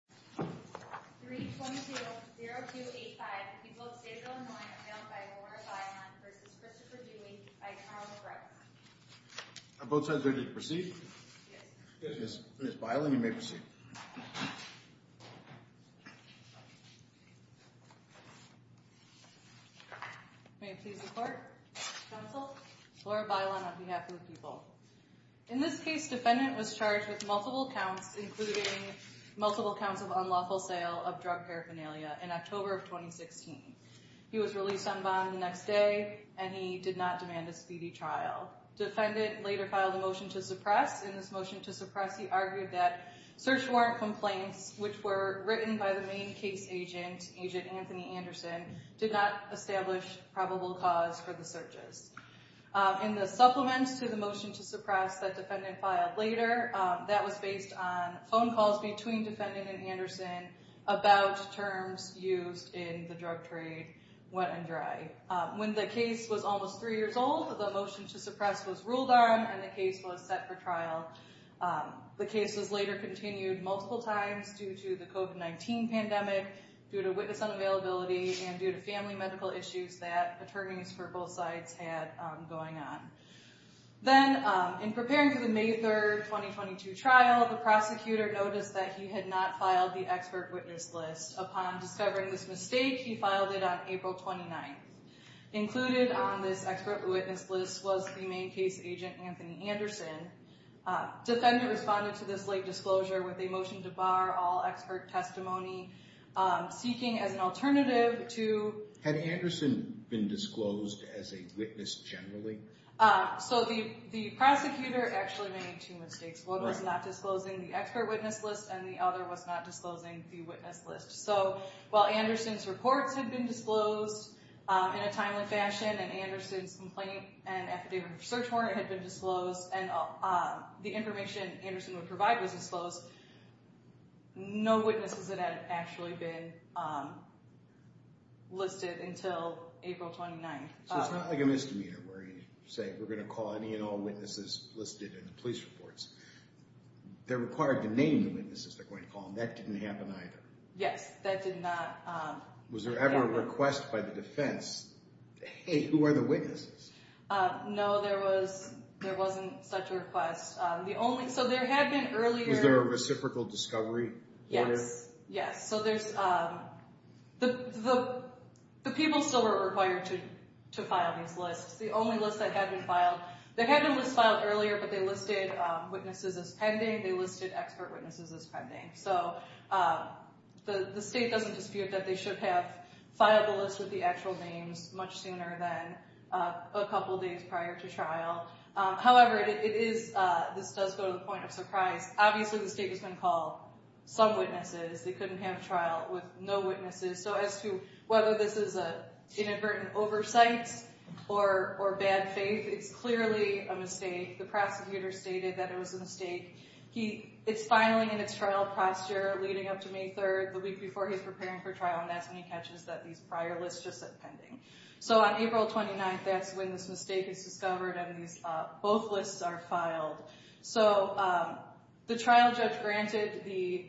322-0285, the people of Stateville, Illinois, are bailed by Laura Bailon v. Christopher Dewey v. Carl McGrath. Are both sides ready to proceed? Yes. Ms. Bailon, you may proceed. May it please the Court. Counsel, Laura Bailon on behalf of the people. In this case, defendant was charged with multiple counts, including multiple counts of unlawful sale of drug paraphernalia in October of 2016. He was released on bond the next day, and he did not demand a speedy trial. Defendant later filed a motion to suppress. In this motion to suppress, he argued that search warrant complaints, which were written by the main case agent, Agent Anthony Anderson, did not establish probable cause for the searches. In the supplement to the motion to suppress that defendant filed later, that was based on phone calls between defendant and Anderson about terms used in the drug trade went undried. When the case was almost three years old, the motion to suppress was ruled on, and the case was set for trial. The case was later continued multiple times due to the COVID-19 pandemic, due to witness unavailability, and due to family medical issues that attorneys for both sides had going on. Then, in preparing for the May 3rd, 2022 trial, the prosecutor noticed that he had not filed the expert witness list. Upon discovering this mistake, he filed it on April 29th. Included on this expert witness list was the main case agent, Anthony Anderson. Defendant responded to this late disclosure with a motion to bar all expert testimony. Seeking as an alternative to- Had Anderson been disclosed as a witness generally? The prosecutor actually made two mistakes. One was not disclosing the expert witness list, and the other was not disclosing the witness list. While Anderson's reports had been disclosed in a timely fashion, and Anderson's complaint and affidavit for search warrant had been disclosed, and the information Anderson would provide was disclosed, no witnesses had actually been listed until April 29th. So it's not like a misdemeanor where you say, we're going to call any and all witnesses listed in the police reports. They're required to name the witnesses they're going to call, and that didn't happen either. Yes, that did not- Was there ever a request by the defense, hey, who are the witnesses? No, there wasn't such a request. So there had been earlier- Was there a reciprocal discovery? Yes, yes. So the people still were required to file these lists. The only list that had been filed- There had been lists filed earlier, but they listed witnesses as pending. They listed expert witnesses as pending. So the state doesn't dispute that they should have filed the list with the actual names much sooner than a couple days prior to trial. However, this does go to the point of surprise. Obviously, the state has been called some witnesses. They couldn't have trial with no witnesses. So as to whether this is an inadvertent oversight or bad faith, it's clearly a mistake. The prosecutor stated that it was a mistake. It's filing in its trial posture leading up to May 3rd, the week before he's preparing for trial, and that's when he catches that these prior lists just said pending. So on April 29th, that's when this mistake is discovered and both lists are filed. So the trial judge granted the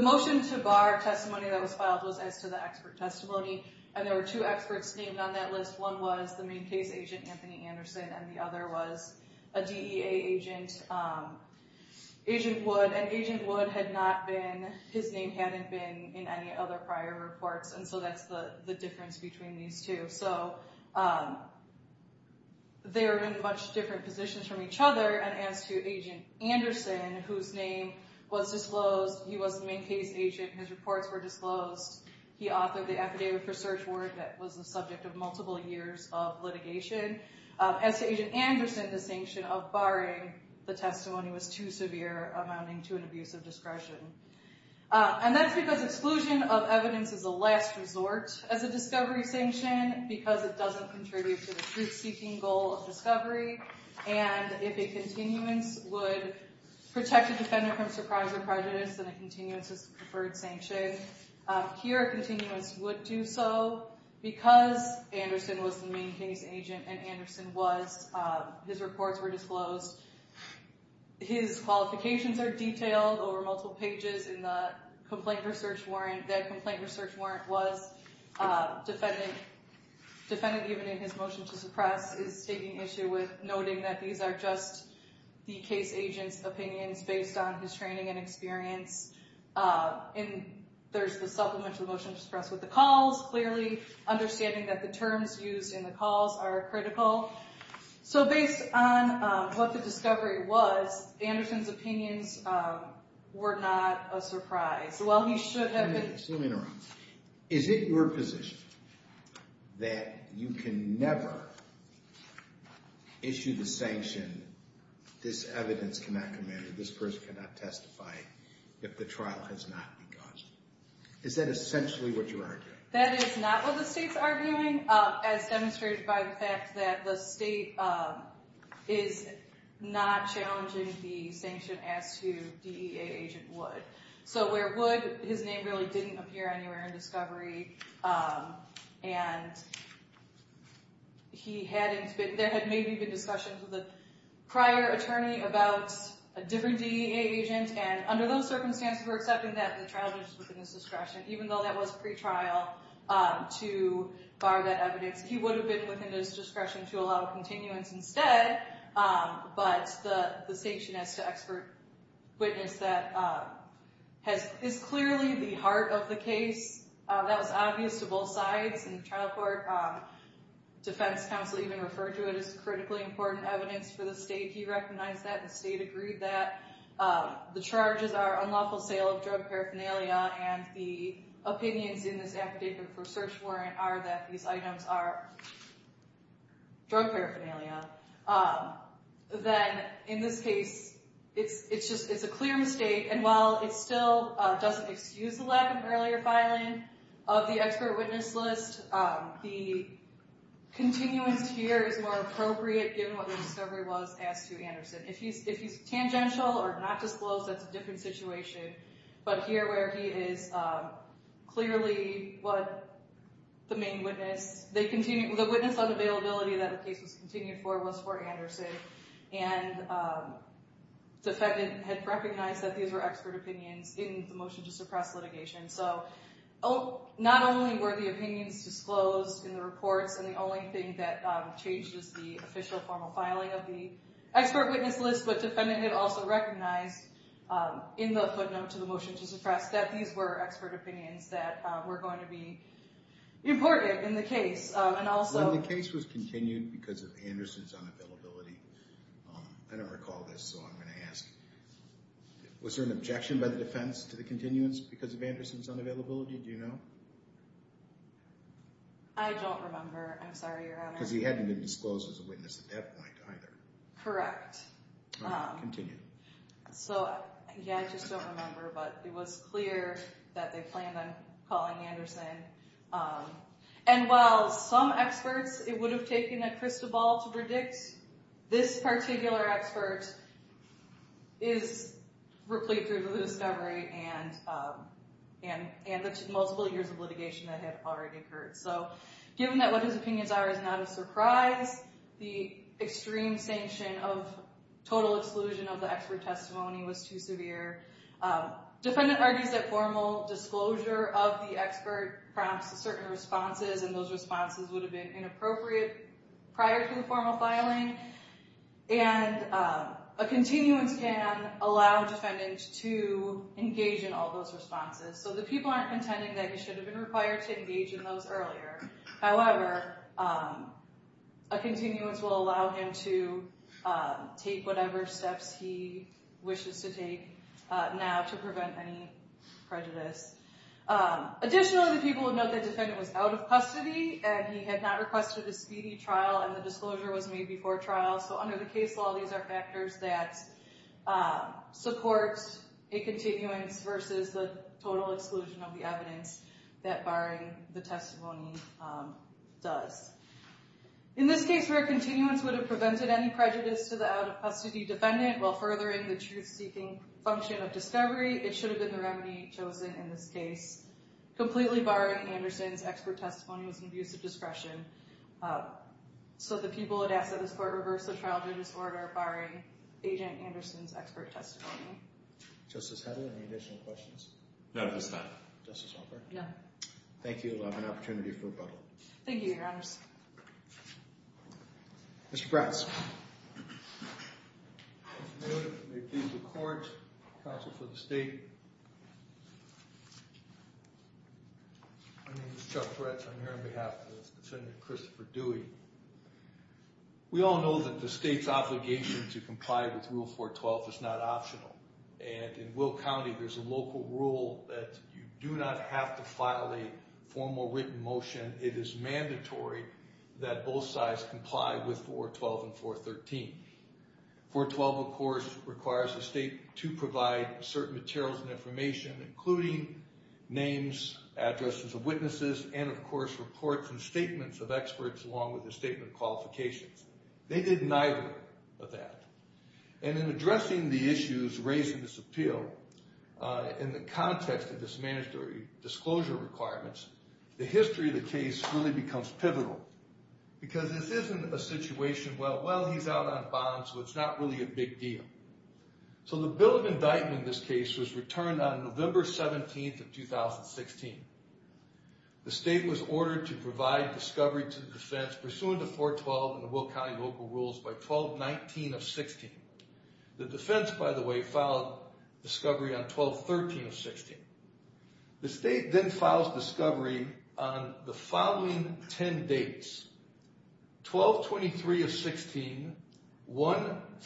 motion to bar testimony that was filed was as to the expert testimony, and there were two experts named on that list. One was the main case agent, Anthony Anderson, and the other was a DEA agent, Agent Wood, and Agent Wood had not been-his name hadn't been in any other prior reports, and so that's the difference between these two. So they were in much different positions from each other. And as to Agent Anderson, whose name was disclosed, he was the main case agent. His reports were disclosed. He authored the affidavit for search warrant that was the subject of multiple years of litigation. As to Agent Anderson, the sanction of barring the testimony was too severe, amounting to an abuse of discretion. And that's because exclusion of evidence is a last resort as a discovery sanction because it doesn't contribute to the truth-seeking goal of discovery, and if a continuance would protect a defendant from surprise or prejudice, then a continuance is the preferred sanction. Here, a continuance would do so because Anderson was the main case agent, and Anderson was-his reports were disclosed. His qualifications are detailed over multiple pages in the complaint research warrant. That complaint research warrant was-defendant, even in his motion to suppress, is taking issue with noting that these are just the case agent's opinions based on his training and experience. And there's the supplement to the motion to suppress with the calls, clearly understanding that the terms used in the calls are critical. So based on what the discovery was, Anderson's opinions were not a surprise. While he should have been- Wait a minute. Excuse me in a moment. Is it your position that you can never issue the sanction, this evidence cannot command or this person cannot testify if the trial has not been caused? Is that essentially what you're arguing? That is not what the state's arguing, as demonstrated by the fact that the state is not challenging the sanction as to DEA agent Wood. So where Wood, his name really didn't appear anywhere in discovery, and he hadn't been-there had maybe been discussions with a prior attorney about a different DEA agent, and under those circumstances, we're accepting that the trial judge was within his discretion, even though that was pretrial, to bar that evidence. He would have been within his discretion to allow continuance instead, but the sanction as to expert witness that is clearly the heart of the case, that was obvious to both sides in the trial court. Defense counsel even referred to it as critically important evidence for the state. He recognized that and the state agreed that. The charges are unlawful sale of drug paraphernalia, and the opinions in this affidavit for search warrant are that these items are drug paraphernalia. Then in this case, it's a clear mistake, and while it still doesn't excuse the lack of earlier filing of the expert witness list, the continuance here is more appropriate given what the discovery was as to Anderson. If he's tangential or not disclosed, that's a different situation, but here where he is clearly the main witness, the witness unavailability that the case was continued for was for Anderson, and the defendant had recognized that these were expert opinions in the motion to suppress litigation. So not only were the opinions disclosed in the reports, and the only thing that changed is the official formal filing of the expert witness list, but the defendant had also recognized in the footnote to the motion to suppress that these were expert opinions that were going to be important in the case. When the case was continued because of Anderson's unavailability, I don't recall this, so I'm going to ask. Was there an objection by the defense to the continuance because of Anderson's unavailability? Do you know? I don't remember. I'm sorry, Your Honor. Because he hadn't been disclosed as a witness at that point either. Correct. Continue. So, yeah, I just don't remember, but it was clear that they planned on calling Anderson. And while some experts, it would have taken a crystal ball to predict, this particular expert is replete with the discovery and the multiple years of litigation that had already occurred. So given that what his opinions are is not a surprise, the extreme sanction of total exclusion of the expert testimony was too severe. Defendant argues that formal disclosure of the expert prompts certain responses, and those responses would have been inappropriate prior to the formal filing. And a continuance can allow defendants to engage in all those responses. So the people aren't contending that he should have been required to engage in those earlier. However, a continuance will allow him to take whatever steps he wishes to take now to prevent any prejudice. Additionally, the people would note that the defendant was out of custody, and he had not requested a speedy trial, and the disclosure was made before trial. So under the case law, these are factors that support a continuance versus the total exclusion of the evidence that barring the testimony does. In this case, where a continuance would have prevented any prejudice to the out-of-custody defendant while furthering the truth-seeking function of discovery, it should have been the remedy chosen in this case. Completely barring Anderson's expert testimony was an abuse of discretion. So the people would ask that this court reverse the trial judge's order barring Agent Anderson's expert testimony. Justice Hedlund, any additional questions? No, no, it's fine. Justice Walker? No. Thank you. I'll have an opportunity for rebuttal. Thank you, Your Honor. Mr. Bratz. Thank you, Your Honor. Make these records, counsel for the state. My name is Chuck Bratz. I'm here on behalf of the defendant, Christopher Dewey. We all know that the state's obligation to comply with Rule 412 is not optional, and in Will County there's a local rule that you do not have to file a formal written motion. It is mandatory that both sides comply with 412 and 413. 412, of course, requires the state to provide certain materials and information, including names, addresses of witnesses, and, of course, reports and statements of experts along with a statement of qualifications. They did neither of that. And in addressing the issues raised in this appeal, in the context of this mandatory disclosure requirements, the history of the case really becomes pivotal because this isn't a situation where, well, he's out on bond so it's not really a big deal. So the bill of indictment in this case was returned on November 17th of 2016. The state was ordered to provide discovery to the defense pursuant to 412 and the Will County local rules by 1219 of 16. The defense, by the way, filed discovery on 1213 of 16. The state then files discovery on the following 10 dates. 1223 of 16, 14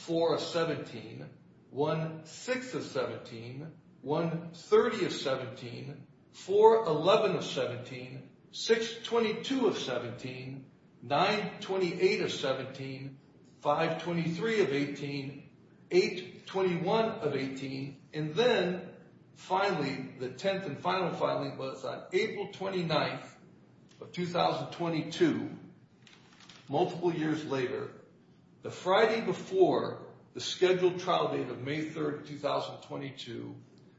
of 17, 16 of 17, 130 of 17, 411 of 17, 622 of 17, 928 of 17, 523 of 18, 821 of 18, and then, finally, the 10th and final filing was on April 29th of 2022. Multiple years later, the Friday before the scheduled trial date of May 3rd, 2022,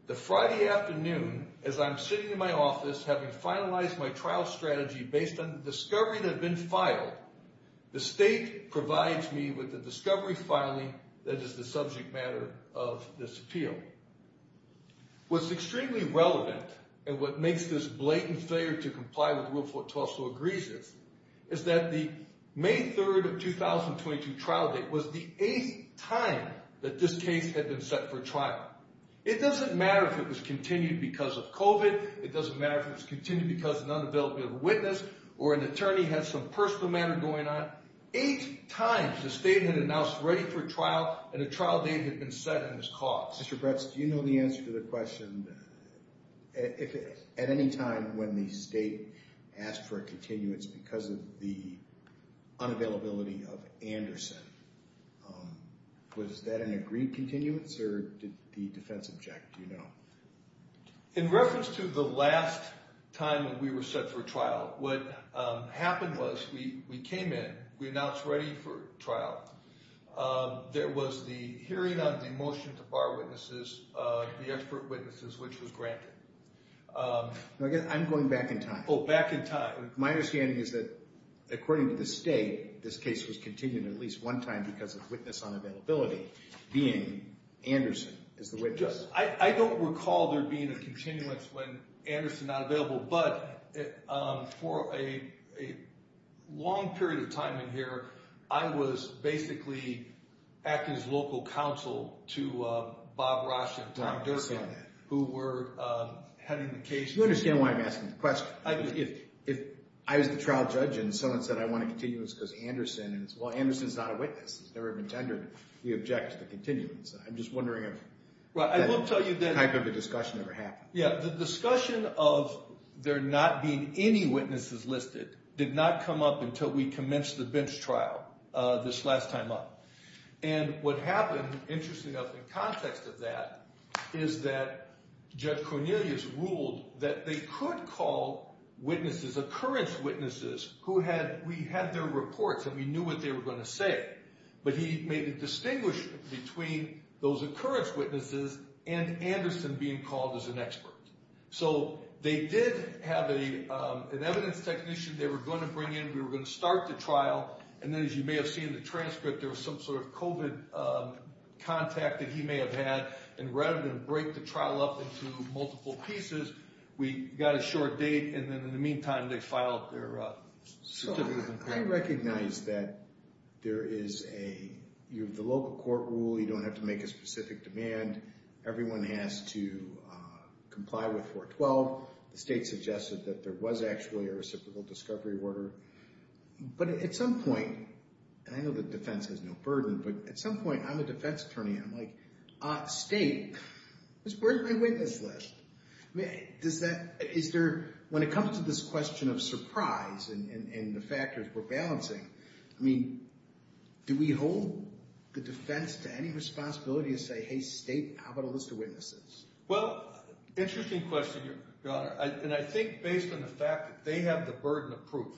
the Friday afternoon, as I'm sitting in my office having finalized my trial strategy based on the discovery that had been filed, the state provides me with the discovery filing that is the subject matter of this appeal. What's extremely relevant and what makes this blatant failure to comply with Rule 412 so egregious is that the May 3rd of 2022 trial date was the eighth time that this case had been set for trial. It doesn't matter if it was continued because of COVID. It doesn't matter if it was continued because an unavailable witness or an attorney had some personal matter going on. Eight times the state had announced ready for trial and a trial date had been set in this cause. Mr. Bretz, do you know the answer to the question? At any time when the state asked for a continuance because of the unavailability of Anderson, was that an agreed continuance or did the defense object? Do you know? In reference to the last time we were set for trial, what happened was we came in, we announced ready for trial. There was the hearing of the motion to bar witnesses, the expert witnesses, which was granted. I'm going back in time. Oh, back in time. My understanding is that according to the state, this case was continued at least one time because of witness unavailability being Anderson as the witness. I don't recall there being a continuance when Anderson was not available, but for a long period of time in here, I was basically acting as local counsel to Bob Rasch and Tom Durkin, who were heading the case. You understand why I'm asking the question. If I was the trial judge and someone said, I want a continuance because of Anderson, well, Anderson is not a witness. He's never been tendered. We object to continuance. I'm just wondering if… Well, I will tell you that… …that type of a discussion ever happened. Yeah. The discussion of there not being any witnesses listed did not come up until we commenced the bench trial this last time up. And what happened, interestingly enough, in context of that, is that Judge Cornelius ruled that they could call witnesses, occurrence witnesses, who had – we had their reports and we knew what they were going to say, but he made a distinguishment between those occurrence witnesses and Anderson being called as an expert. So they did have an evidence technician they were going to bring in. We were going to start the trial, and then as you may have seen in the transcript, there was some sort of COVID contact that he may have had, and rather than break the trial up into multiple pieces, we got a short date, and then in the meantime, they filed their certificate of impairment. I recognize that there is a – you have the local court rule. You don't have to make a specific demand. Everyone has to comply with 412. The state suggested that there was actually a reciprocal discovery order. But at some point – and I know that defense has no burden, but at some point, I'm a defense attorney. I'm like, state, where's my witness list? Does that – is there – when it comes to this question of surprise and the factors we're balancing, I mean, do we hold the defense to any responsibility to say, hey, state, how about a list of witnesses? Well, interesting question, Your Honor, and I think based on the fact that they have the burden of proof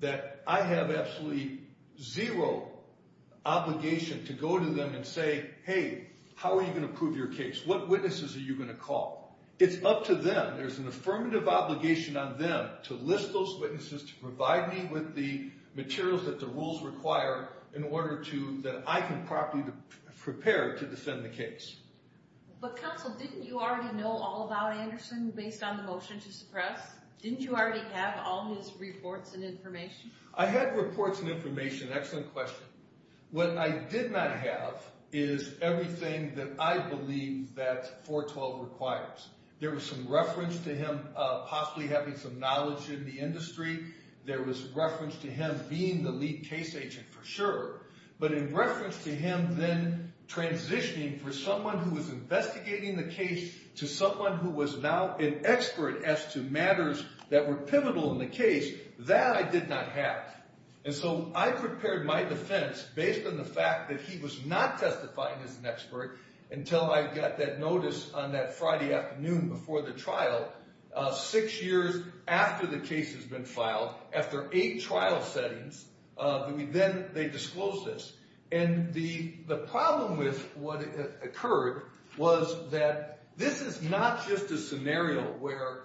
that I have absolutely zero obligation to go to them and say, hey, how are you going to prove your case? What witnesses are you going to call? It's up to them. There's an affirmative obligation on them to list those witnesses, to provide me with the materials that the rules require in order to – that I can properly prepare to defend the case. But, counsel, didn't you already know all about Anderson based on the motion to suppress? Didn't you already have all his reports and information? I had reports and information. Excellent question. What I did not have is everything that I believe that 412 requires. There was some reference to him possibly having some knowledge in the industry. There was reference to him being the lead case agent for sure. But in reference to him then transitioning from someone who was investigating the case to someone who was now an expert as to matters that were pivotal in the case, that I did not have. And so I prepared my defense based on the fact that he was not testifying as an expert until I got that notice on that Friday afternoon before the trial, six years after the case has been filed, after eight trial settings. Then they disclosed this. And the problem with what occurred was that this is not just a scenario where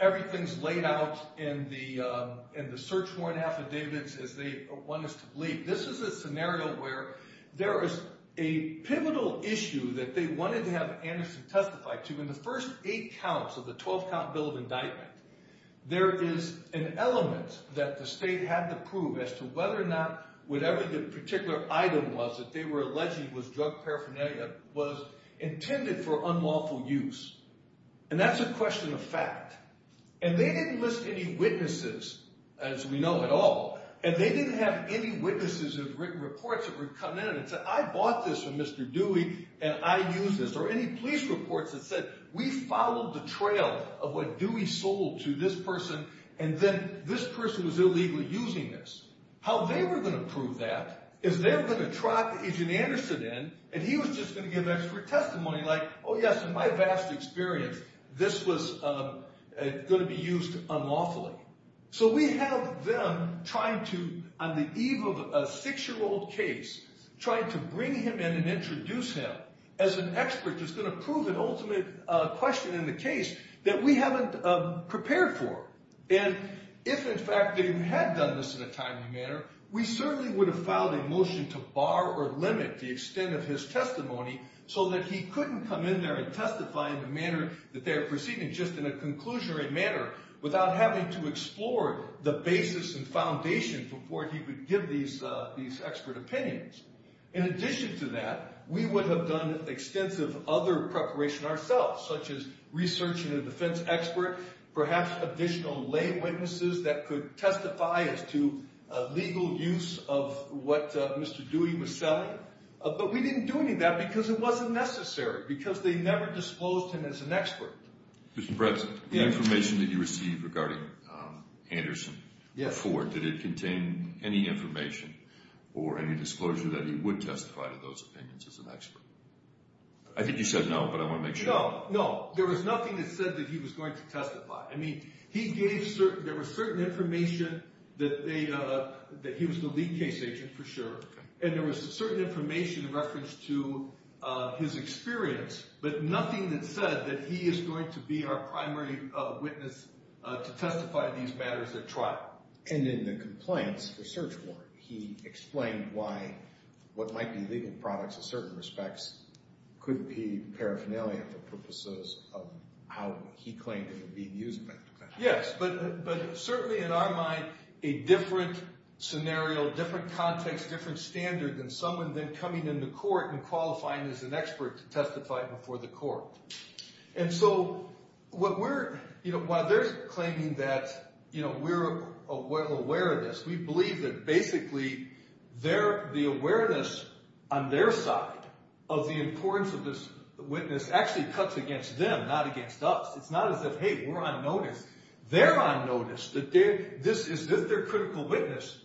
everything is laid out in the search warrant affidavits as they want us to believe. This is a scenario where there is a pivotal issue that they wanted to have Anderson testify to. In the first eight counts of the 12-count bill of indictment, there is an element that the state had to prove as to whether or not whatever the particular item was that they were alleging was drug paraphernalia that was intended for unlawful use. And that's a question of fact. And they didn't list any witnesses, as we know, at all. And they didn't have any witnesses of written reports that would come in and say, I bought this from Mr. Dewey, and I used this. Or any police reports that said, we followed the trail of what Dewey sold to this person, and then this person was illegally using this. How they were going to prove that is they were going to track Agent Anderson in, and he was just going to give extra testimony like, oh, yes, in my vast experience, this was going to be used unlawfully. So we have them trying to, on the eve of a six-year-old case, trying to bring him in and introduce him as an expert that's going to prove an ultimate question in the case that we haven't prepared for. And if, in fact, they had done this in a timely manner, we certainly would have filed a motion to bar or limit the extent of his testimony so that he couldn't come in there and testify in the manner that they are proceeding, just in a conclusionary manner without having to explore the basis and foundation before he would give these expert opinions. In addition to that, we would have done extensive other preparation ourselves, such as researching a defense expert, perhaps additional lay witnesses that could testify as to legal use of what Mr. Dewey was selling. But we didn't do any of that because it wasn't necessary, because they never disclosed him as an expert. Mr. Bretz, the information that you received regarding Anderson or Ford, did it contain any information or any disclosure that he would testify to those opinions as an expert? I think you said no, but I want to make sure. No, no. There was nothing that said that he was going to testify. I mean, there was certain information that he was the lead case agent, for sure, and there was certain information in reference to his experience, but nothing that said that he is going to be our primary witness to testify to these matters at trial. And in the compliance research report, he explained why what might be legal products in certain respects could be paraphernalia for purposes of how he claimed it would be used. Yes, but certainly in our mind, a different scenario, different context, different standard than someone then coming into court and qualifying as an expert to testify before the court. And so while they're claiming that we're aware of this, we believe that basically the awareness on their side of the importance of this witness actually cuts against them, not against us. It's not as if, hey, we're on notice. They're on notice. Is this their critical witness?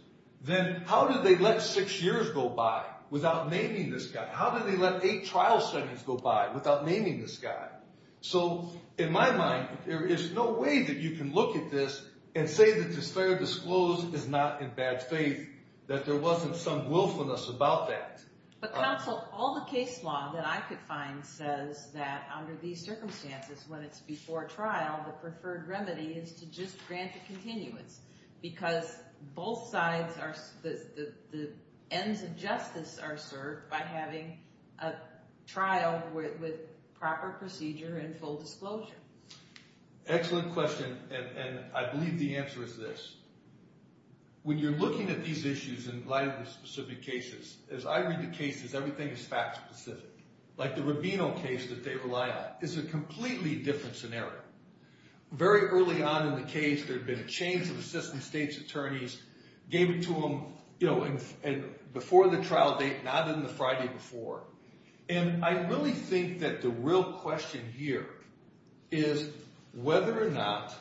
Then how did they let six years go by without naming this guy? How did they let eight trial settings go by without naming this guy? So in my mind, there is no way that you can look at this and say that this fair disclose is not in bad faith, that there wasn't some willfulness about that. But counsel, all the case law that I could find says that under these circumstances, when it's before trial, the preferred remedy is to just grant the continuance because both sides, the ends of justice are served by having a trial with proper procedure and full disclosure. Excellent question, and I believe the answer is this. When you're looking at these issues in light of these specific cases, as I read the cases, everything is fact specific. Like the Rubino case that they rely on is a completely different scenario. Very early on in the case, there had been a change of assistant state's attorneys, gave it to them before the trial date, not in the Friday before. And I really think that the real question here is whether or not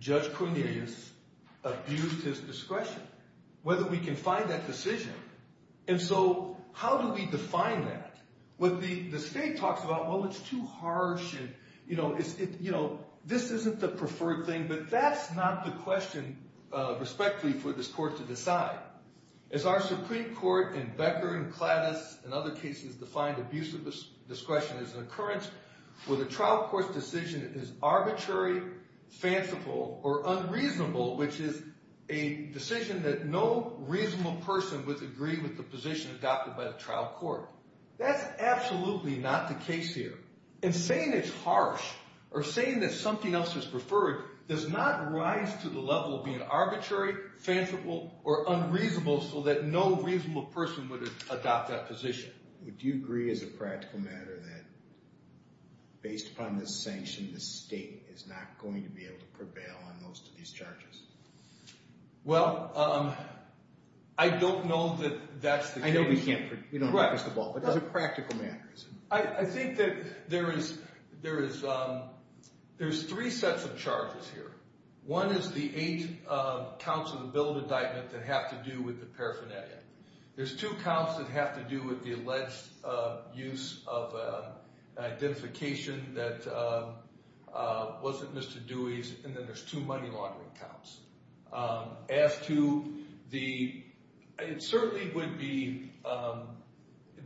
Judge Cornelius abused his discretion, whether we can find that decision. And so how do we define that? What the state talks about, well, it's too harsh, and this isn't the preferred thing, but that's not the question, respectfully, for this court to decide. As our Supreme Court in Becker and Clattis and other cases defined abusive discretion as an occurrence where the trial court's decision is arbitrary, fanciful, or unreasonable, which is a decision that no reasonable person would agree with the position adopted by the trial court. That's absolutely not the case here. And saying it's harsh or saying that something else is preferred does not rise to the level of being arbitrary, fanciful, or unreasonable so that no reasonable person would adopt that position. Would you agree as a practical matter that based upon this sanction, the state is not going to be able to prevail on most of these charges? As a practical matter. I think that there is three sets of charges here. One is the eight counts of the bill of indictment that have to do with the paraphernalia. There's two counts that have to do with the alleged use of identification that wasn't Mr. Dewey's, and then there's two money laundering counts. As to the, it certainly would be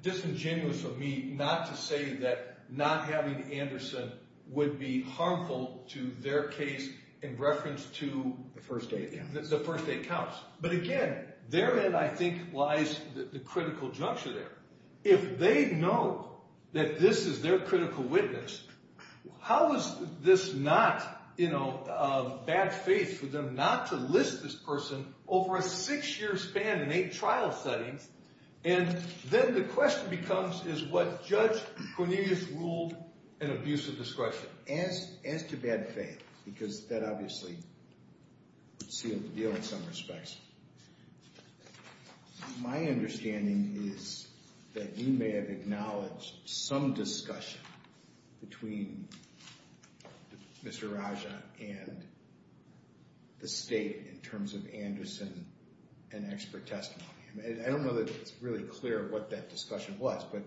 disingenuous of me not to say that not having Anderson would be harmful to their case in reference to the first eight counts. But again, therein I think lies the critical juncture there. If they know that this is their critical witness, how is this not, you know, bad faith for them not to list this person over a six-year span in eight trial settings, and then the question becomes is what Judge Cornelius ruled an abuse of discretion? As to bad faith, because that obviously would seal the deal in some respects, my understanding is that we may have acknowledged some discussion between Mr. Raja and the state in terms of Anderson and expert testimony. I don't know that it's really clear what that discussion was, but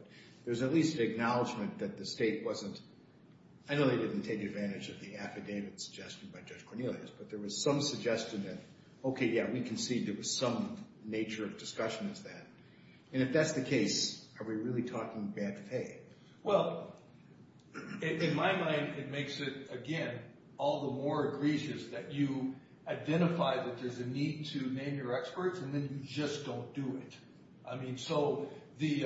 there's at least an acknowledgement that the state wasn't, I know they didn't take advantage of the affidavit suggested by Judge Cornelius, but there was some suggestion that, okay, yeah, we can see there was some nature of discussion as that. And if that's the case, are we really talking bad faith? Well, in my mind, it makes it, again, all the more egregious that you identify that there's a need to name your experts, and then you just don't do it. I mean, so the,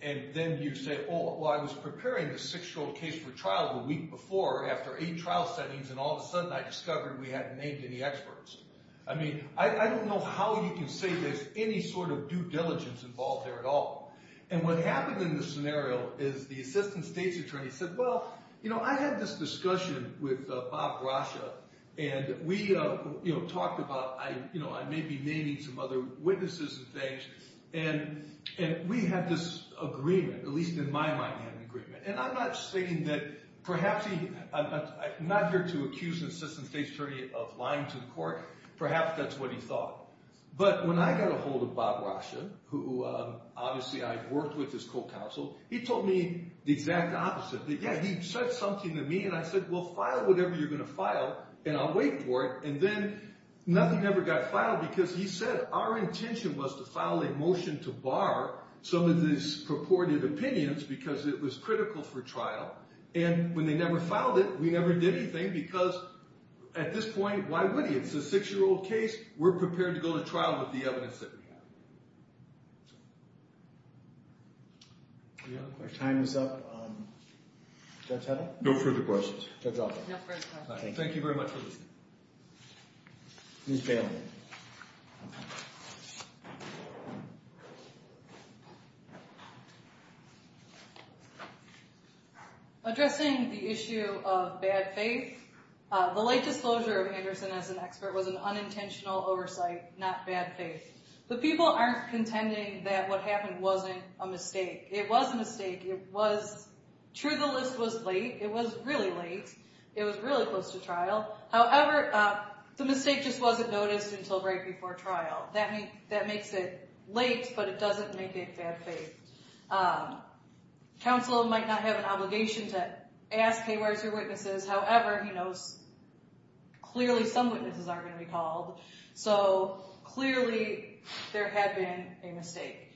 and then you say, oh, well, I was preparing the six-year-old case for trial the week before after eight trial settings, and all of a sudden I discovered we hadn't named any experts. I mean, I don't know how you can say there's any sort of due diligence involved there at all. And what happened in this scenario is the assistant state's attorney said, well, you know, I had this discussion with Bob Raja, and we talked about, you know, I may be naming some other witnesses and things, and we had this agreement, at least in my mind we had an agreement. And I'm not stating that perhaps he, I'm not here to accuse an assistant state's attorney of lying to the court. Perhaps that's what he thought. But when I got a hold of Bob Raja, who obviously I worked with as co-counsel, he told me the exact opposite. That, yeah, he said something to me, and I said, well, file whatever you're going to file, and I'll wait for it. And then nothing ever got filed because he said our intention was to file a motion to bar some of these purported opinions because it was critical for trial. And when they never filed it, we never did anything because at this point, why would he? It's a six-year-old case. We're prepared to go to trial with the evidence that we have. Our time is up. Judge Hedda? No further questions. Thank you very much for listening. Ms. Bailey. Addressing the issue of bad faith, the light disclosure of Anderson as an expert was an unintentional oversight, not bad faith. But people aren't contending that what happened wasn't a mistake. It was a mistake. It was true the list was late. It was really close to trial. However, the mistake just wasn't noticed until right before trial. That makes it late, but it doesn't make it bad faith. Counsel might not have an obligation to ask, hey, where's your witnesses? However, he knows clearly some witnesses aren't going to be called, so clearly there had been a mistake.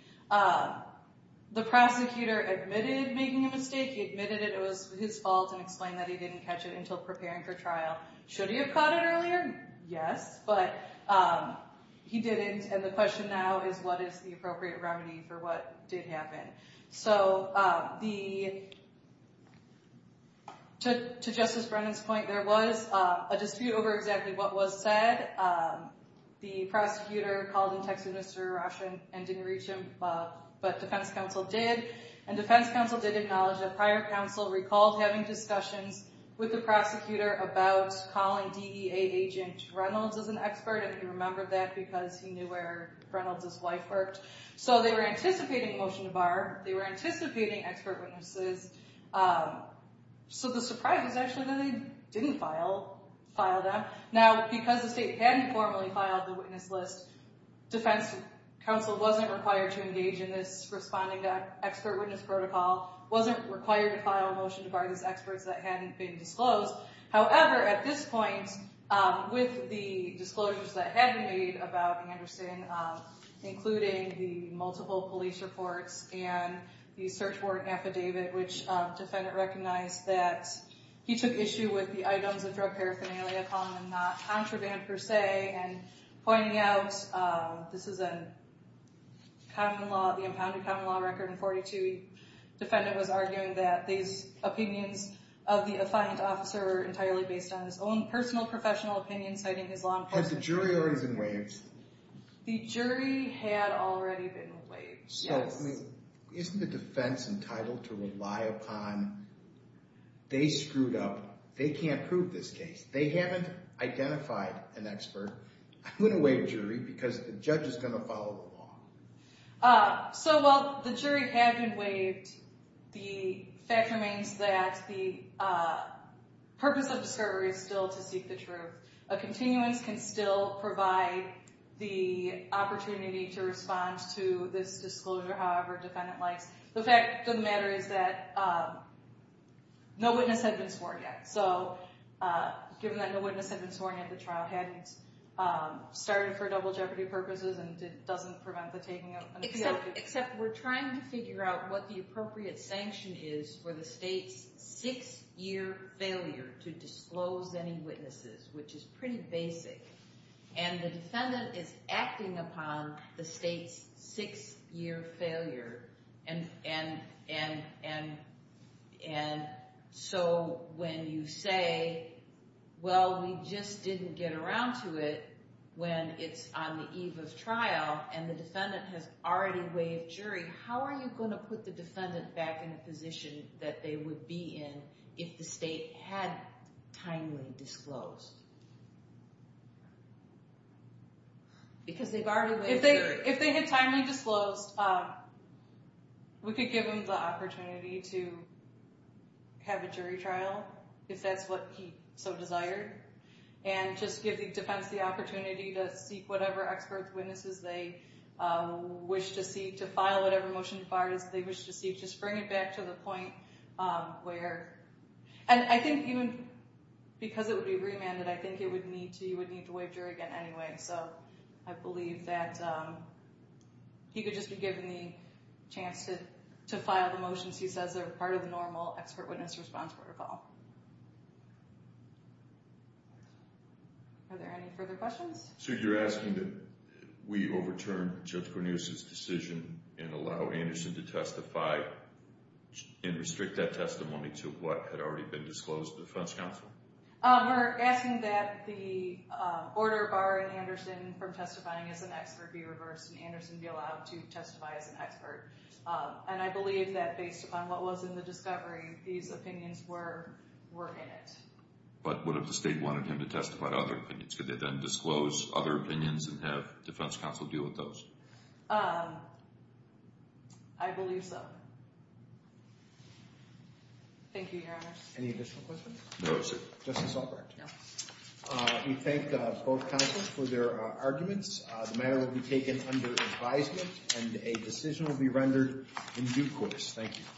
The prosecutor admitted making a mistake. He admitted it was his fault and explained that he didn't catch it until preparing for trial. Should he have caught it earlier? Yes, but he didn't, and the question now is what is the appropriate remedy for what did happen? So to Justice Brennan's point, there was a dispute over exactly what was said. The prosecutor called and texted Mr. Roshan and didn't reach him, but defense counsel did. And defense counsel did acknowledge that prior counsel recalled having discussions with the prosecutor about calling DEA agent Reynolds as an expert, and he remembered that because he knew where Reynolds' wife worked. So they were anticipating a motion to bar. They were anticipating expert witnesses. So the surprise was actually that they didn't file them. Now, because the state hadn't formally filed the witness list, defense counsel wasn't required to engage in this responding to expert witness protocol, wasn't required to file a motion to bar these experts that hadn't been disclosed. However, at this point, with the disclosures that had been made about Anderson, including the multiple police reports and the search warrant affidavit, which defendant recognized that he took issue with the items of drug paraphernalia, calling them not contraband per se, and pointing out this is a common law, the impounded common law record in 42, the defendant was arguing that these opinions of the affiant officer were entirely based on his own personal, professional opinion, citing his long-term experience. But the jury already has been waived. The jury had already been waived, yes. So isn't the defense entitled to rely upon, they screwed up, they can't prove this case. They haven't identified an expert. I'm going to waive jury because the judge is going to follow the law. So while the jury had been waived, the fact remains that the purpose of discovery is still to seek the truth. A continuance can still provide the opportunity to respond to this disclosure, however defendant likes. The fact of the matter is that no witness had been sworn yet. So given that no witness had been sworn yet, the trial hadn't started for double jeopardy purposes and it doesn't prevent the taking of an appeal. Except we're trying to figure out what the appropriate sanction is for the state's six-year failure to disclose any witnesses, which is pretty basic. And the defendant is acting upon the state's six-year failure. And so when you say, well, we just didn't get around to it when it's on the eve of trial and the defendant has already waived jury, how are you going to put the defendant back in a position that they would be in if the state had timely disclosed? Because they've already waived jury. If they had timely disclosed, we could give them the opportunity to have a jury trial, if that's what he so desired. And just give the defense the opportunity to seek whatever expert witnesses they wish to see, to file whatever motion to fire as they wish to see. Just bring it back to the point where, and I think even because it would be remanded, I think it would need to, you would need to waive jury again anyway. So I believe that he could just be given the chance to file the motions he says are part of the normal expert witness response protocol. Are there any further questions? So you're asking that we overturn Judge Cornelius' decision and allow Anderson to testify and restrict that testimony to what had already been disclosed to the defense counsel? We're asking that the order barring Anderson from testifying as an expert be reversed and Anderson be allowed to testify as an expert. And I believe that based upon what was in the discovery, these opinions were in it. But what if the state wanted him to testify to other opinions? Could they then disclose other opinions and have defense counsel deal with those? I believe so. Thank you, Your Honors. Any additional questions? No, sir. Justice Albrecht? Yeah. We thank both counsels for their arguments. The matter will be taken under advisement and a decision will be rendered in due course. Thank you.